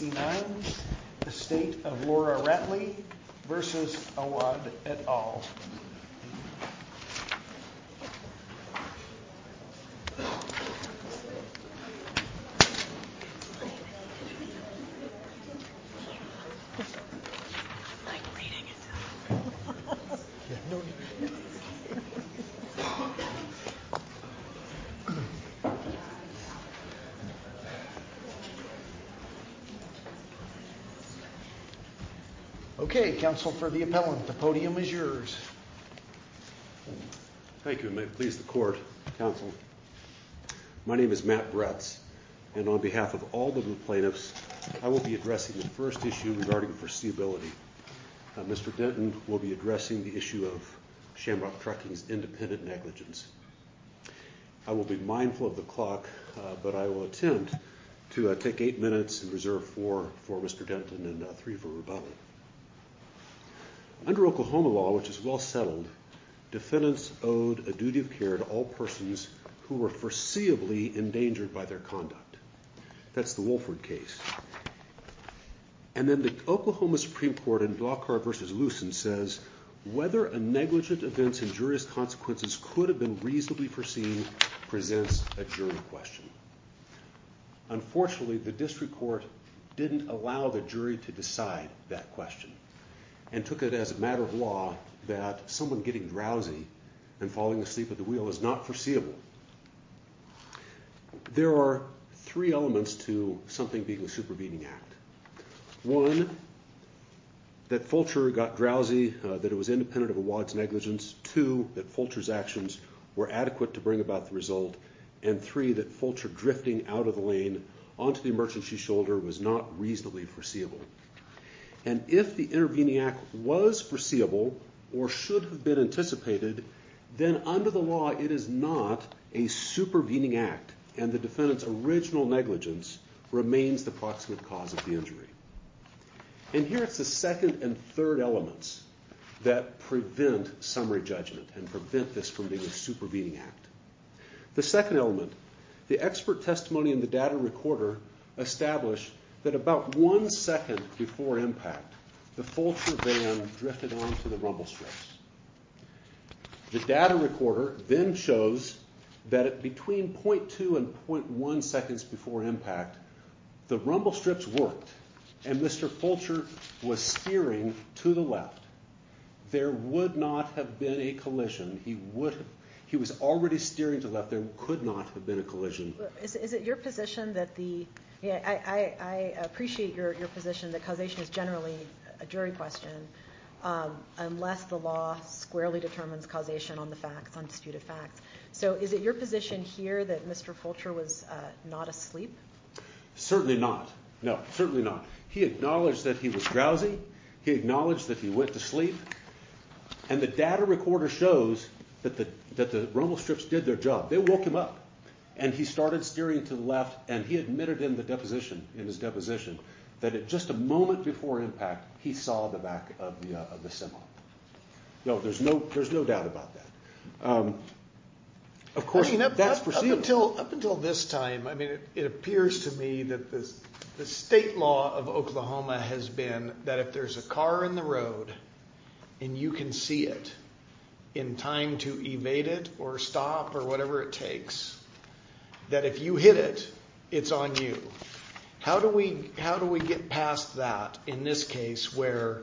et al. Okay, counsel for the appellant, the podium is yours. Thank you, and may it please the court, counsel. My name is Matt Bretz, and on behalf of all the plaintiffs, I will be addressing the first issue regarding foreseeability. Mr. Denton will be addressing the issue of Shamrock Trucking's independent negligence. I will be mindful of the clock, but I will attempt to take eight minutes and reserve four for Mr. Denton and three for rebuttal. Under Oklahoma law, which is well settled, defendants owed a duty of care to all persons who were foreseeably endangered by their conduct. That's the Wolford case. And then the Oklahoma Supreme Court in Blockhart v. Lucen says, whether a negligent event's injurious consequences could have been reasonably foreseen presents a jury question. Unfortunately, the district court didn't allow the jury to decide that question and took it as a matter of law that someone getting drowsy and falling asleep at the wheel is not foreseeable. There are three elements to something being a supervening act. One, that Fulcher got drowsy, that it was independent of a wad's negligence. Two, that Fulcher's actions were adequate to bring about the result. And three, that Fulcher drifting out of the lane onto the emergency shoulder was not reasonably foreseeable. And if the intervening act was foreseeable or should have been anticipated, then under the law it is not a supervening act and the defendant's original negligence remains the proximate cause of the injury. And here it's the second and third elements that prevent summary judgment and prevent this from being a supervening act. The second element, the expert testimony in the data recorder established that about one second before impact, the Fulcher van drifted onto the rumble strips. The data recorder then shows that between .2 and .1 seconds before impact, the rumble strips worked and Mr. Fulcher was steering to the left. There would not have been a collision. He was already steering to the left. There could not have been a collision. Is it your position that the – I appreciate your position that causation is generally a jury question unless the law squarely determines causation on the facts, on disputed facts. So is it your position here that Mr. Fulcher was not asleep? Certainly not. No, certainly not. He acknowledged that he was drowsy. He acknowledged that he went to sleep. And the data recorder shows that the rumble strips did their job. They woke him up and he started steering to the left and he admitted in the deposition, in his deposition, that at just a moment before impact, he saw the back of the semi. There's no doubt about that. I mean, up until this time, it appears to me that the state law of Oklahoma has been that if there's a car in the road and you can see it in time to evade it or stop or whatever it takes, that if you hit it, it's on you. How do we get past that in this case where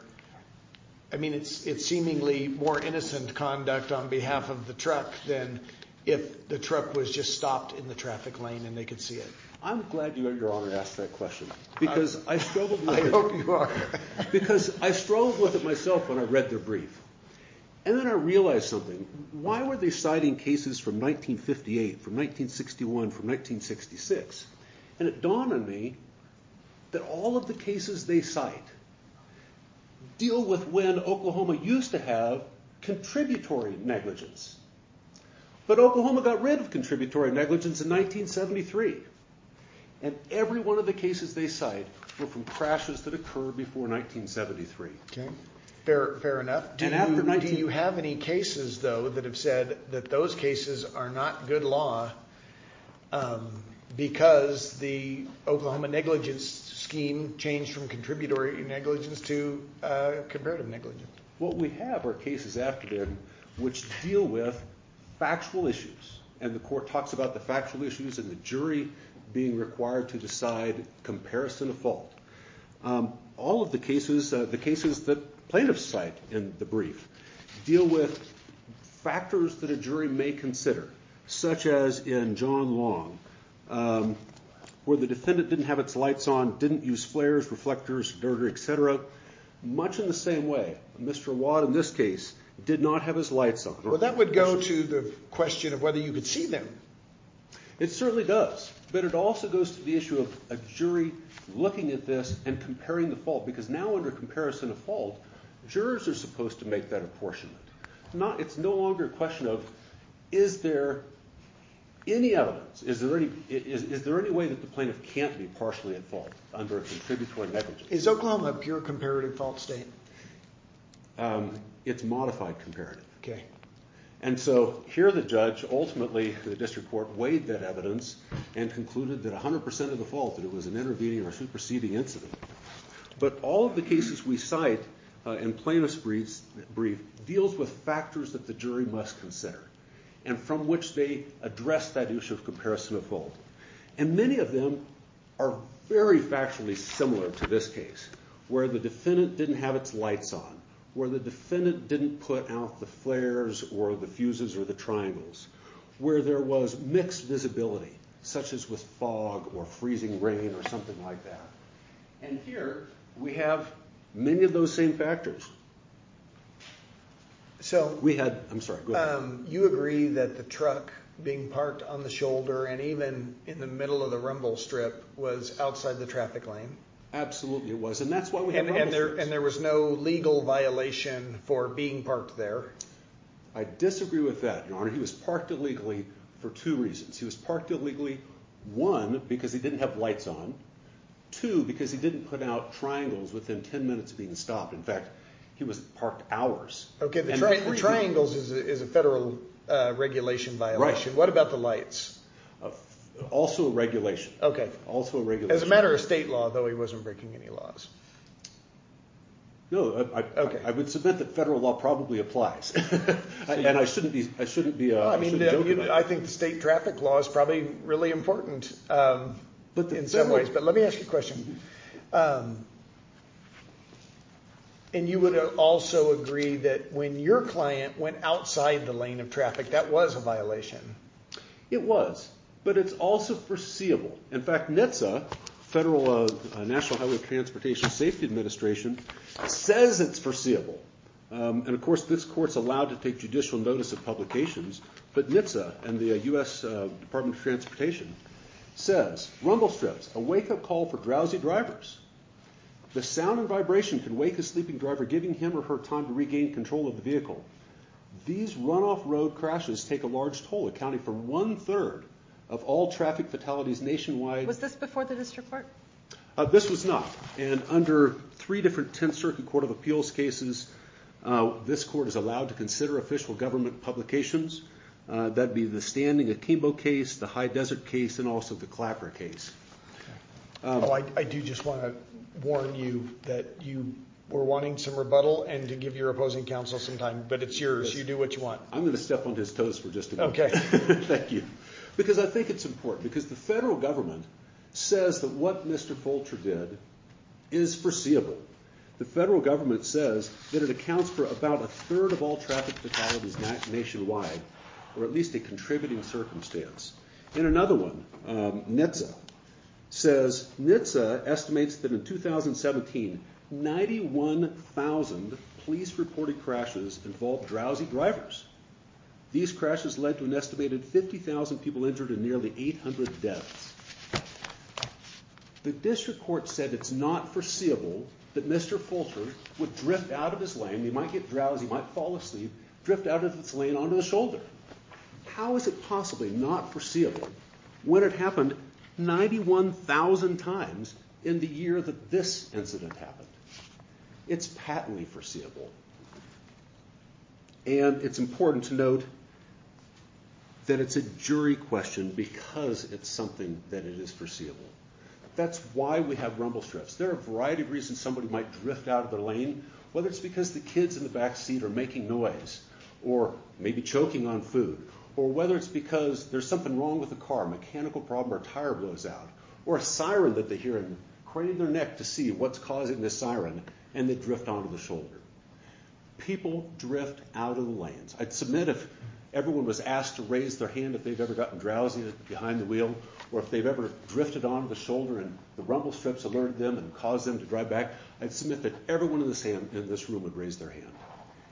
– I mean, it's seemingly more innocent conduct on behalf of the truck than if the truck was just stopped in the traffic lane and they could see it. I'm glad you had your honor ask that question because I struggled with it. And then I realized something. Why were they citing cases from 1958, from 1961, from 1966? And it dawned on me that all of the cases they cite deal with when Oklahoma used to have contributory negligence. But Oklahoma got rid of contributory negligence in 1973. And every one of the cases they cite were from crashes that occurred before 1973. Fair enough. Do you have any cases, though, that have said that those cases are not good law because the Oklahoma negligence scheme changed from contributory negligence to comparative negligence? What we have are cases after them which deal with factual issues. And the court talks about the factual issues and the jury being required to decide comparison of fault. All of the cases that plaintiffs cite in the brief deal with factors that a jury may consider, such as in John Long where the defendant didn't have its lights on, didn't use flares, reflectors, etc., much in the same way Mr. Watt in this case did not have his lights on. Well, that would go to the question of whether you could see them. It certainly does. But it also goes to the issue of a jury looking at this and comparing the fault because now under comparison of fault, jurors are supposed to make that apportionment. It's no longer a question of is there any evidence, is there any way that the plaintiff can't be partially at fault under a contributory negligence? Is Oklahoma a pure comparative fault state? It's modified comparative. And so here the judge ultimately, the district court, weighed that evidence and concluded that 100% of the fault that it was an intervening or superseding incident. But all of the cases we cite in plaintiff's brief deals with factors that the jury must consider and from which they address that issue of comparison of fault. And many of them are very factually similar to this case where the defendant didn't have its lights on, where the defendant didn't put out the flares or the fuses or the triangles, where there was mixed visibility such as with fog or freezing rain or something like that. And here we have many of those same factors. So you agree that the truck being parked on the shoulder and even in the middle of the rumble strip was outside the traffic lane? Absolutely it was. And there was no legal violation for being parked there? I disagree with that, Your Honor. He was parked illegally for two reasons. He was parked illegally, one, because he didn't have lights on, two, because he didn't put out triangles within 10 minutes of being stopped. In fact, he was parked hours. Okay, the triangles is a federal regulation violation. What about the lights? Also a regulation. As a matter of state law, though, he wasn't breaking any laws. No, I would submit that federal law probably applies. And I shouldn't joke about it. I think the state traffic law is probably really important in some ways. But let me ask you a question. And you would also agree that when your client went outside the lane of traffic, that was a violation? It was, but it's also foreseeable. In fact, NHTSA, National Highway Transportation Safety Administration, says it's foreseeable. And, of course, this court's allowed to take judicial notice of publications, but NHTSA and the U.S. Department of Transportation says, Rumble strips, a wake-up call for drowsy drivers. The sound and vibration can wake a sleeping driver, giving him or her time to regain control of the vehicle. These runoff road crashes take a large toll, accounting for one-third of all traffic fatalities nationwide. Was this before the district court? This was not. And under three different Tenth Circuit Court of Appeals cases, this court is allowed to consider official government publications. That would be the Standing Akimbo case, the High Desert case, and also the Clapper case. I do just want to warn you that you were wanting some rebuttal and to give your opposing counsel some time, but it's yours. You do what you want. I'm going to step on his toes for just a minute. Okay. Thank you. Because I think it's important. Because the federal government says that what Mr. Fulcher did is foreseeable. The federal government says that it accounts for about a third of all traffic fatalities nationwide, or at least a contributing circumstance. In another one, NHTSA says NHTSA estimates that in 2017, 91,000 police-reported crashes involved drowsy drivers. These crashes led to an estimated 50,000 people injured and nearly 800 deaths. The district court said it's not foreseeable that Mr. Fulcher would drift out of his lane. He might get drowsy. He might fall asleep, drift out of his lane onto his shoulder. How is it possibly not foreseeable when it happened 91,000 times in the year that this incident happened? It's patently foreseeable. And it's important to note that it's a jury question because it's something that it is foreseeable. That's why we have rumble strips. There are a variety of reasons somebody might drift out of their lane, whether it's because the kids in the backseat are making noise or maybe choking on food, or whether it's because there's something wrong with the car, a mechanical problem, or a tire blows out, or a siren that they hear and crane in their neck to see what's causing this siren, and they drift onto the shoulder. People drift out of the lanes. I'd submit if everyone was asked to raise their hand if they've ever gotten drowsy behind the wheel or if they've ever drifted onto the shoulder and the rumble strips alerted them and caused them to drive back, I'd submit that everyone in this room would raise their hand.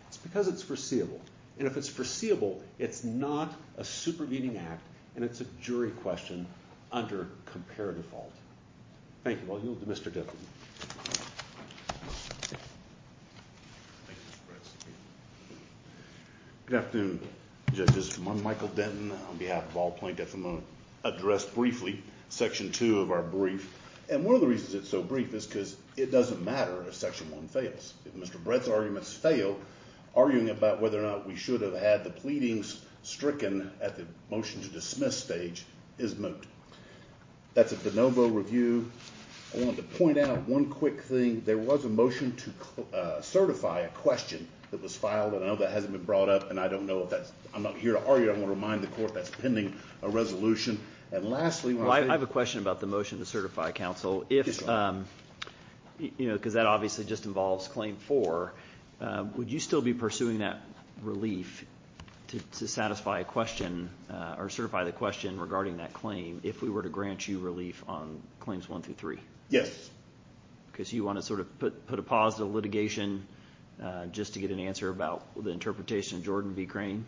It's because it's foreseeable. And if it's foreseeable, it's not a supervening act, and it's a jury question under comparative fault. Thank you. I'll yield to Mr. Denton. Good afternoon, judges. I'm Michael Denton on behalf of all plaintiffs. I'm going to address briefly Section 2 of our brief. And one of the reasons it's so brief is because it doesn't matter if Section 1 fails. If Mr. Brett's arguments fail, arguing about whether or not we should have had the pleadings stricken at the motion to dismiss stage is moot. That's a de novo review. I wanted to point out one quick thing. There was a motion to certify a question that was filed, and I know that hasn't been brought up, and I don't know if that's ñ I'm not here to argue. I want to remind the court that's pending a resolution. And lastly, when I say ñ Well, I have a question about the motion to certify counsel. Yes, sir. Because that obviously just involves Claim 4. Would you still be pursuing that relief to satisfy a question or certify the question regarding that claim if we were to grant you relief on Claims 1 through 3? Yes. Because you want to sort of put a pause to litigation just to get an answer about the interpretation of Jordan B. Crane?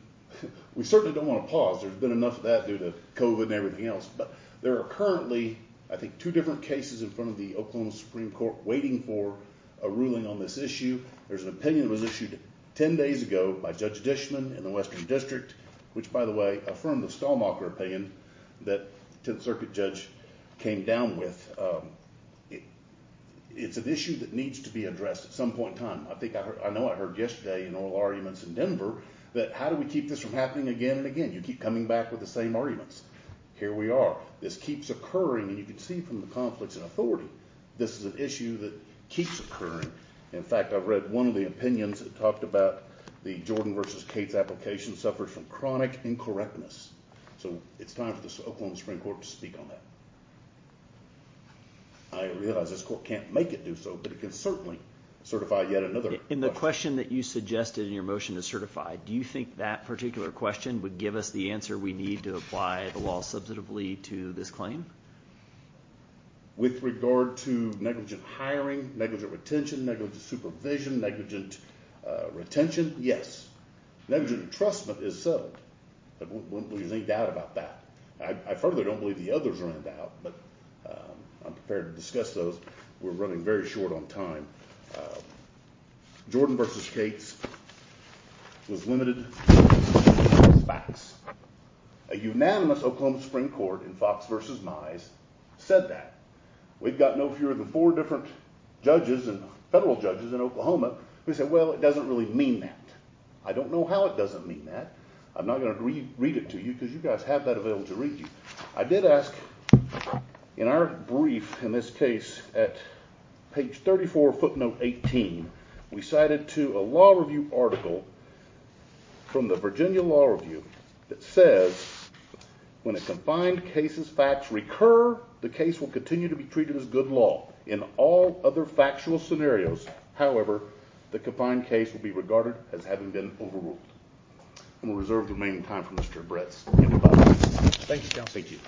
We certainly don't want to pause. There's been enough of that due to COVID and everything else. But there are currently, I think, two different cases in front of the Oklahoma Supreme Court waiting for a ruling on this issue. There's an opinion that was issued 10 days ago by Judge Dishman in the Western District, which, by the way, affirmed the Stallmacher opinion that the Tenth Circuit judge came down with. It's an issue that needs to be addressed at some point in time. I know I heard yesterday in oral arguments in Denver that how do we keep this from happening again and again? You keep coming back with the same arguments. Here we are. This keeps occurring, and you can see from the conflicts of authority this is an issue that keeps occurring. In fact, I've read one of the opinions that talked about the Jordan v. Cates application suffered from chronic incorrectness. So it's time for the Oklahoma Supreme Court to speak on that. I realize this court can't make it do so, but it can certainly certify yet another. In the question that you suggested in your motion to certify, do you think that particular question would give us the answer we need to apply the law substantively to this claim? With regard to negligent hiring, negligent retention, negligent supervision, negligent retention, yes. Negligent entrustment is settled. There's no doubt about that. I further don't believe the others are in doubt, but I'm prepared to discuss those. We're running very short on time. Jordan v. Cates was limited to facts. A unanimous Oklahoma Supreme Court in Fox v. Mize said that. We've got no fewer than four different judges and federal judges in Oklahoma who said, well, it doesn't really mean that. I don't know how it doesn't mean that. I'm not going to read it to you because you guys have that available to read to you. I did ask, in our brief in this case, at page 34, footnote 18, we cited to a law review article from the Virginia Law Review that says, when a confined case's facts recur, the case will continue to be treated as good law in all other factual scenarios. However, the confined case will be regarded as having been overruled. We'll reserve the remaining time for Mr. Bretz. Thank you, Counsel. Thank you.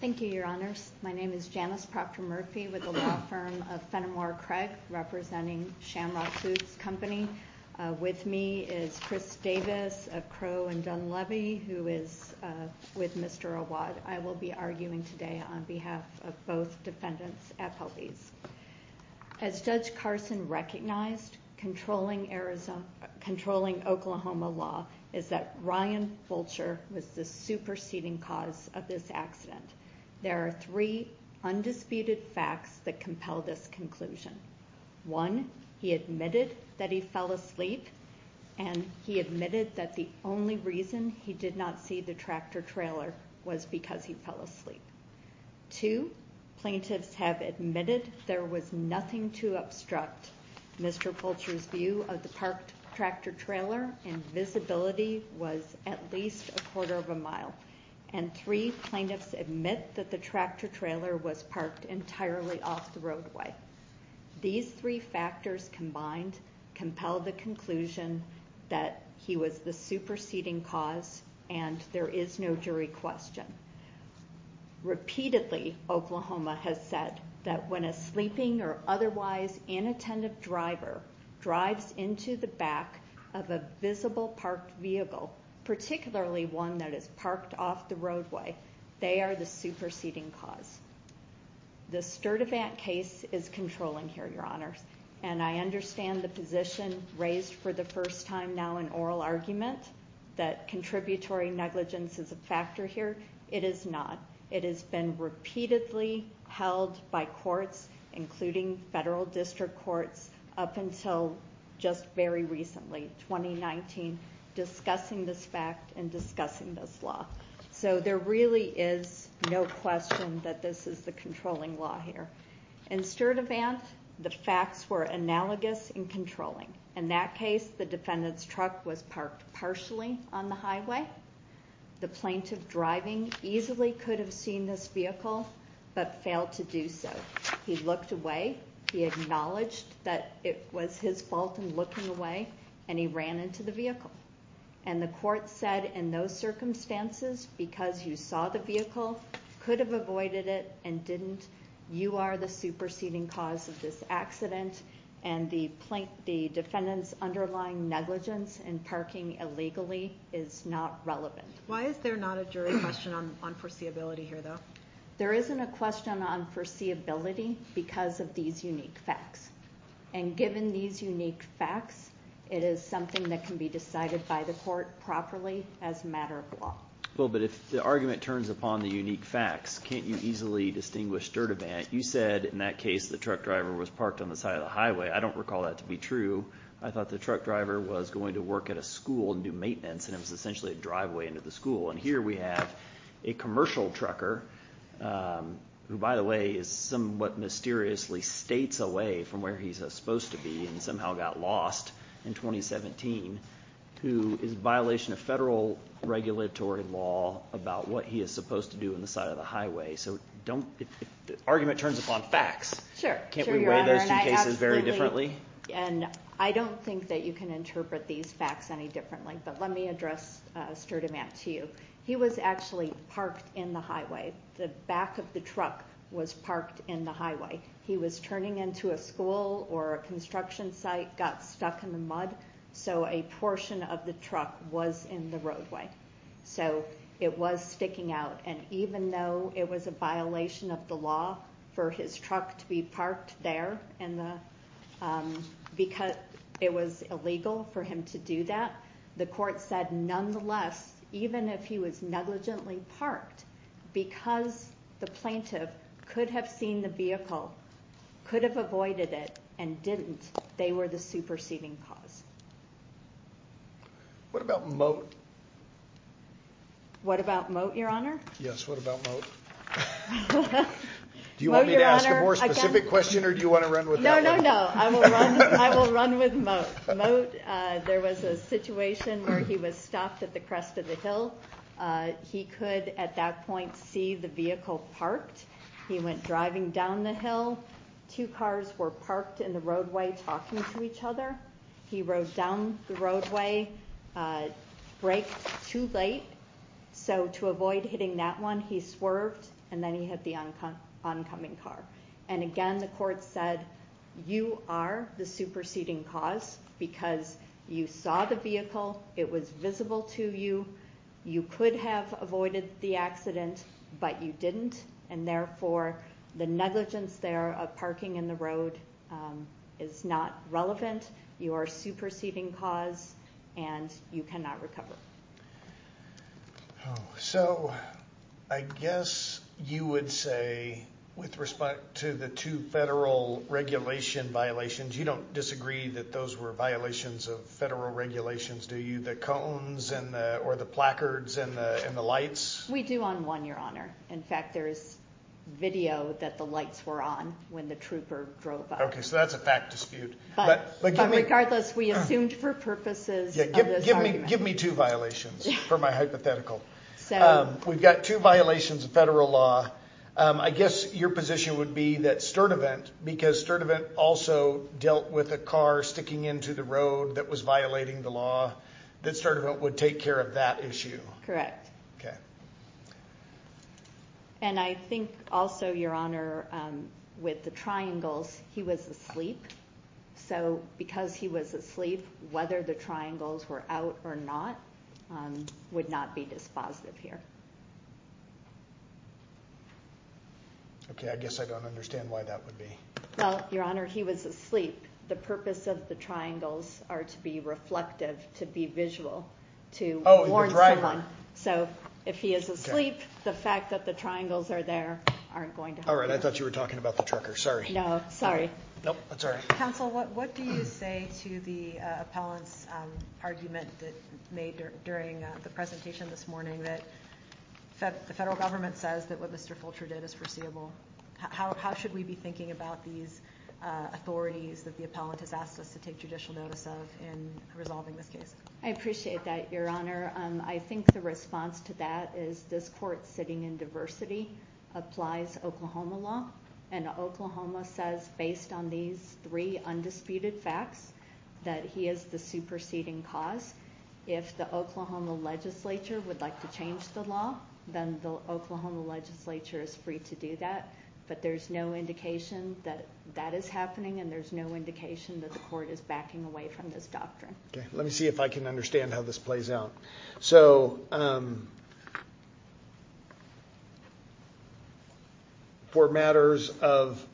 Thank you, Your Honors. My name is Janice Proctor Murphy with the law firm of Fenimore Craig, representing Shamrock Foods Company. With me is Chris Davis of Crow and Dunleavy, who is with Mr. Awad. I will be arguing today on behalf of both defendants at police. As Judge Carson recognized, controlling Oklahoma law is that Ryan Fulcher was the superseding cause of this accident. There are three undisputed facts that compel this conclusion. One, he admitted that he fell asleep, and he admitted that the only reason he did not see the tractor trailer was because he fell asleep. Two, plaintiffs have admitted there was nothing to obstruct Mr. Fulcher's view of the parked tractor trailer, and visibility was at least a quarter of a mile. And three, plaintiffs admit that the tractor trailer was parked entirely off the roadway. These three factors combined compel the conclusion that he was the superseding cause, and there is no jury question. Repeatedly, Oklahoma has said that when a sleeping or otherwise inattentive driver drives into the back of a visible parked vehicle, particularly one that is parked off the roadway, they are the superseding cause. The Sturdivant case is controlling here, Your Honors, and I understand the position raised for the first time now in oral argument, that contributory negligence is a factor here. It is not. It has been repeatedly held by courts, including federal district courts, up until just very recently, 2019, discussing this fact and discussing this law. So there really is no question that this is the controlling law here. In Sturdivant, the facts were analogous in controlling. In that case, the defendant's truck was parked partially on the highway. The plaintiff driving easily could have seen this vehicle, but failed to do so. He looked away. He acknowledged that it was his fault in looking away, and he ran into the vehicle. And the court said, in those circumstances, because you saw the vehicle, could have avoided it and didn't, you are the superseding cause of this accident, and the defendant's underlying negligence in parking illegally is not relevant. Why is there not a jury question on foreseeability here, though? There isn't a question on foreseeability because of these unique facts. And given these unique facts, it is something that can be decided by the court properly as a matter of law. Well, but if the argument turns upon the unique facts, can't you easily distinguish Sturdivant? You said, in that case, the truck driver was parked on the side of the highway. I don't recall that to be true. I thought the truck driver was going to work at a school and do maintenance, and it was essentially a driveway into the school. And here we have a commercial trucker, who, by the way, is somewhat mysteriously states away from where he's supposed to be and somehow got lost in 2017, who is a violation of federal regulatory law about what he is supposed to do on the side of the highway. So if the argument turns upon facts, can't we weigh those two cases very differently? And I don't think that you can interpret these facts any differently, but let me address Sturdivant to you. He was actually parked in the highway. The back of the truck was parked in the highway. He was turning into a school or a construction site, got stuck in the mud, so a portion of the truck was in the roadway. So it was sticking out, and even though it was a violation of the law for his truck to be parked there, and it was illegal for him to do that, the court said nonetheless, even if he was negligently parked, because the plaintiff could have seen the vehicle, could have avoided it, and didn't, they were the superseding cause. What about Moat? What about Moat, Your Honor? Yes, what about Moat? Do you want me to ask a more specific question, or do you want to run with that? No, no, no. I will run with Moat. Moat, there was a situation where he was stopped at the crest of the hill. He could at that point see the vehicle parked. He went driving down the hill. Two cars were parked in the roadway talking to each other. He rode down the roadway, braked too late, so to avoid hitting that one, he swerved, and then he hit the oncoming car. And again, the court said, you are the superseding cause, because you saw the vehicle, it was visible to you, you could have avoided the accident, but you didn't, and therefore the negligence there of parking in the road is not relevant. You are a superseding cause, and you cannot recover. So, I guess you would say, with respect to the two federal regulation violations, you don't disagree that those were violations of federal regulations, do you? The cones, or the placards, and the lights? We do on one, Your Honor. In fact, there is video that the lights were on when the trooper drove up. Okay, so that's a fact dispute. But regardless, we assumed for purposes of this argument. Give me two violations for my hypothetical. We've got two violations of federal law. I guess your position would be that Sturtevant, because Sturtevant also dealt with a car sticking into the road that was violating the law, that Sturtevant would take care of that issue. Correct. Okay. And I think also, Your Honor, with the triangles, he was asleep. So, because he was asleep, whether the triangles were out or not would not be dispositive here. Okay, I guess I don't understand why that would be. Well, Your Honor, he was asleep. The purpose of the triangles are to be reflective, to be visual, to warn someone. So, if he is asleep, the fact that the triangles are there aren't going to help him. All right, I thought you were talking about the trucker. Sorry. No, sorry. Nope, that's all right. Counsel, what do you say to the appellant's argument that made during the presentation this morning that the federal government says that what Mr. Fulcher did is foreseeable? How should we be thinking about these authorities that the appellant has asked us to take judicial notice of in resolving this case? I appreciate that, Your Honor. I think the response to that is this court sitting in diversity applies Oklahoma law, and Oklahoma says, based on these three undisputed facts, that he is the superseding cause. If the Oklahoma legislature would like to change the law, then the Oklahoma legislature is free to do that. But there's no indication that that is happening, and there's no indication that the court is backing away from this doctrine. Okay, let me see if I can understand how this plays out. So, for matters of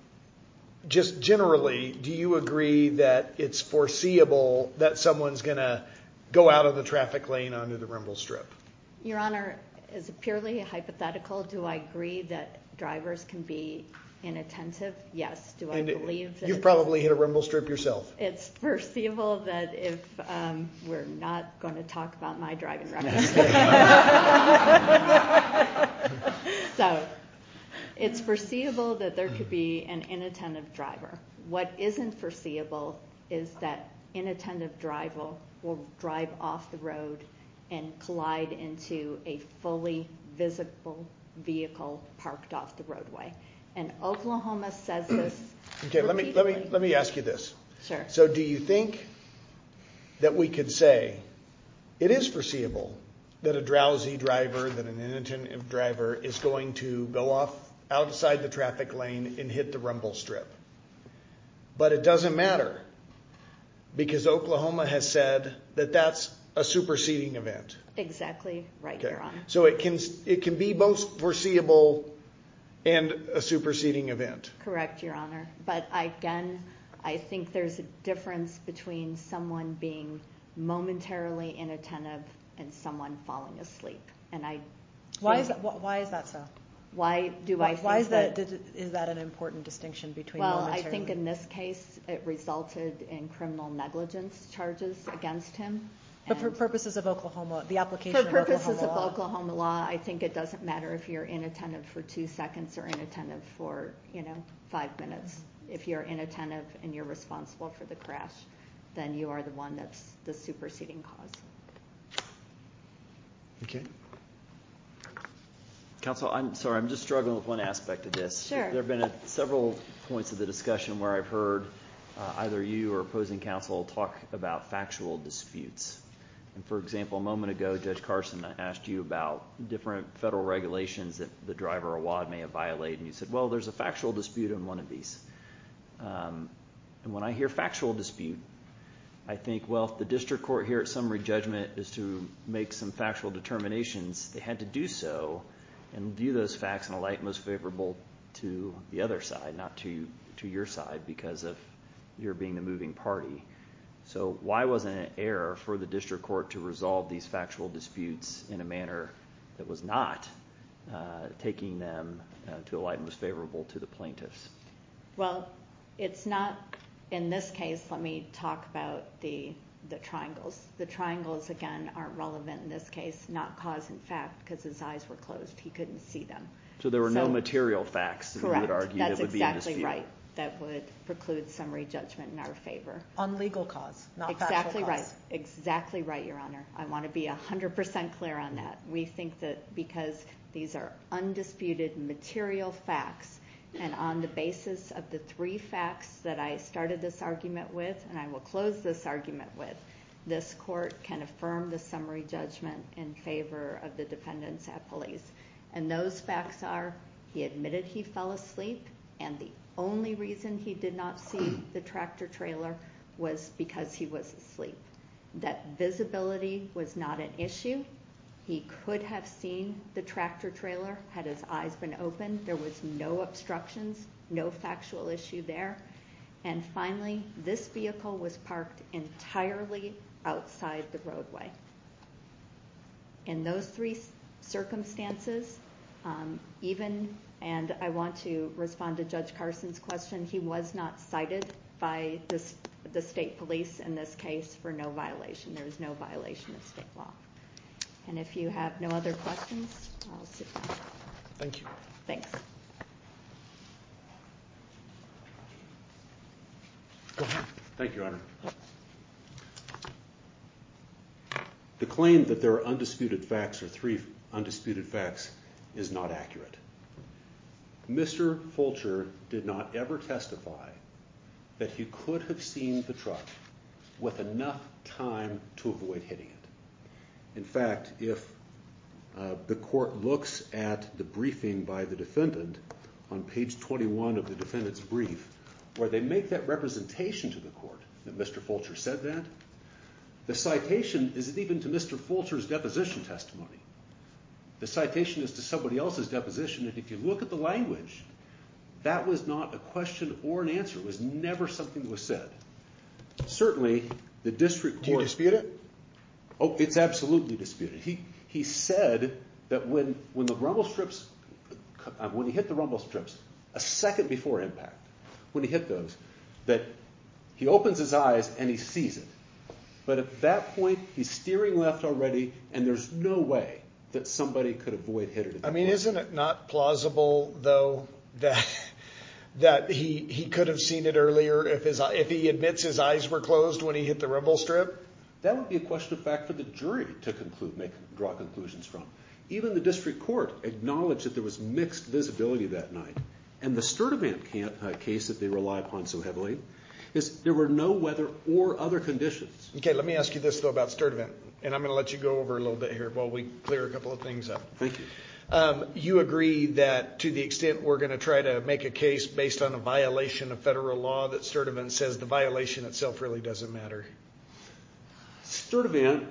just generally, do you agree that it's foreseeable that someone's going to go out on the traffic lane onto the Rimble Strip? Your Honor, is it purely hypothetical? Do I agree that drivers can be inattentive? Yes, do I believe that? You've probably hit a Rimble Strip yourself. It's foreseeable that if – we're not going to talk about my driving record. So, it's foreseeable that there could be an inattentive driver. What isn't foreseeable is that inattentive driver will drive off the road and collide into a fully visible vehicle parked off the roadway. And Oklahoma says this repeatedly. Okay, let me ask you this. So, do you think that we could say it is foreseeable that a drowsy driver, that an inattentive driver is going to go off outside the traffic lane and hit the Rumble Strip? But it doesn't matter, because Oklahoma has said that that's a superseding event. Exactly right, Your Honor. So, it can be both foreseeable and a superseding event. Correct, Your Honor. But again, I think there's a difference between someone being momentarily inattentive and someone falling asleep. Why is that so? Why do I think that? Is that an important distinction between momentarily? Well, I think in this case it resulted in criminal negligence charges against him. But for purposes of Oklahoma, the application of Oklahoma law. I think it doesn't matter if you're inattentive for two seconds or inattentive for, you know, five minutes. If you're inattentive and you're responsible for the crash, then you are the one that's the superseding cause. Okay. Counsel, I'm sorry, I'm just struggling with one aspect of this. Sure. There have been several points of the discussion where I've heard either you or opposing counsel talk about factual disputes. And, for example, a moment ago Judge Carson asked you about different federal regulations that the driver or WAD may have violated. And you said, well, there's a factual dispute on one of these. And when I hear factual dispute, I think, well, if the district court here at summary judgment is to make some factual determinations, they had to do so and view those facts in a light most favorable to the other side, not to your side, because of your being the moving party. So why wasn't it air for the district court to resolve these factual disputes in a manner that was not taking them to a light most favorable to the plaintiffs? Well, it's not – in this case, let me talk about the triangles. The triangles, again, aren't relevant in this case, not cause and fact, because his eyes were closed. He couldn't see them. So there were no material facts that he would argue that would be a dispute. Correct. That's exactly right. That would preclude summary judgment in our favor. On legal cause, not factual cause. Exactly right. Exactly right, Your Honor. I want to be 100 percent clear on that. We think that because these are undisputed material facts, and on the basis of the three facts that I started this argument with and I will close this argument with, this court can affirm the summary judgment in favor of the defendants at police. And those facts are he admitted he fell asleep, and the only reason he did not see the tractor trailer was because he was asleep. That visibility was not an issue. He could have seen the tractor trailer had his eyes been open. There was no obstructions, no factual issue there. And finally, this vehicle was parked entirely outside the roadway. In those three circumstances, even, and I want to respond to Judge Carson's question, he was not cited by the state police in this case for no violation. There was no violation of state law. And if you have no other questions, I'll sit down. Thank you. Thanks. Go ahead. Thank you, Your Honor. The claim that there are undisputed facts or three undisputed facts is not accurate. Mr. Fulcher did not ever testify that he could have seen the truck with enough time to avoid hitting it. In fact, if the court looks at the briefing by the defendant on page 21 of the defendant's brief, where they make that representation to the court that Mr. Fulcher said that, the citation isn't even to Mr. Fulcher's deposition testimony. The citation is to somebody else's deposition. And if you look at the language, that was not a question or an answer. It was never something that was said. Certainly, the district court- Do you dispute it? Oh, it's absolutely disputed. He said that when the rumble strips, when he hit the rumble strips a second before impact, when he hit those, that he opens his eyes and he sees it. But at that point, he's steering left already, and there's no way that somebody could avoid hitting it. I mean, isn't it not plausible, though, that he could have seen it earlier if he admits his eyes were closed when he hit the rumble strip? That would be a question of fact for the jury to draw conclusions from. Even the district court acknowledged that there was mixed visibility that night, and the Sturdivant case that they rely upon so heavily is there were no weather or other conditions. Okay, let me ask you this, though, about Sturdivant, and I'm going to let you go over a little bit here while we clear a couple of things up. Thank you. You agree that to the extent we're going to try to make a case based on a violation of federal law that Sturdivant says the violation itself really doesn't matter? Sturdivant,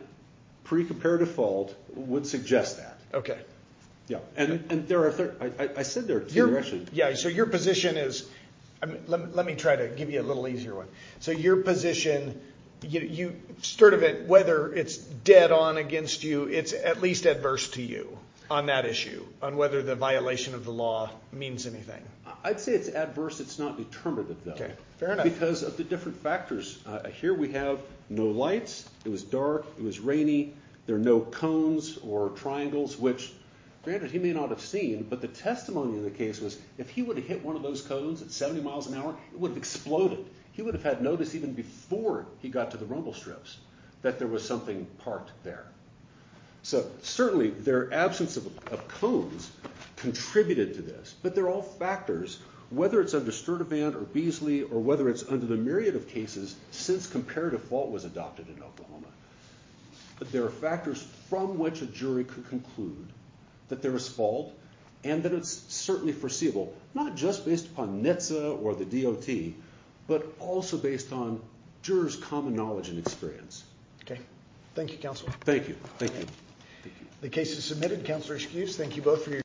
pre-comparative fault, would suggest that. Okay. Yeah, and I said there two directions. Yeah, so your position is, let me try to give you a little easier one. So your position, Sturdivant, whether it's dead on against you, it's at least adverse to you on that issue, on whether the violation of the law means anything. I'd say it's adverse, it's not determinative, though. Okay, fair enough. Because of the different factors. Here we have no lights, it was dark, it was rainy, there are no cones or triangles, which, granted, he may not have seen, but the testimony in the case was if he would have hit one of those cones at 70 miles an hour, it would have exploded. He would have had notice even before he got to the rumble strips that there was something parked there. So certainly their absence of cones contributed to this, but they're all factors, whether it's under Sturdivant or Beasley or whether it's under the myriad of cases since comparative fault was adopted in Oklahoma. But there are factors from which a jury could conclude that there is fault and that it's certainly foreseeable, not just based upon NHTSA or the DOT, but also based on jurors' common knowledge and experience. Okay. Thank you, Counselor. Thank you. Thank you. The case is submitted. Counselor, excuse. Thank you both for your time.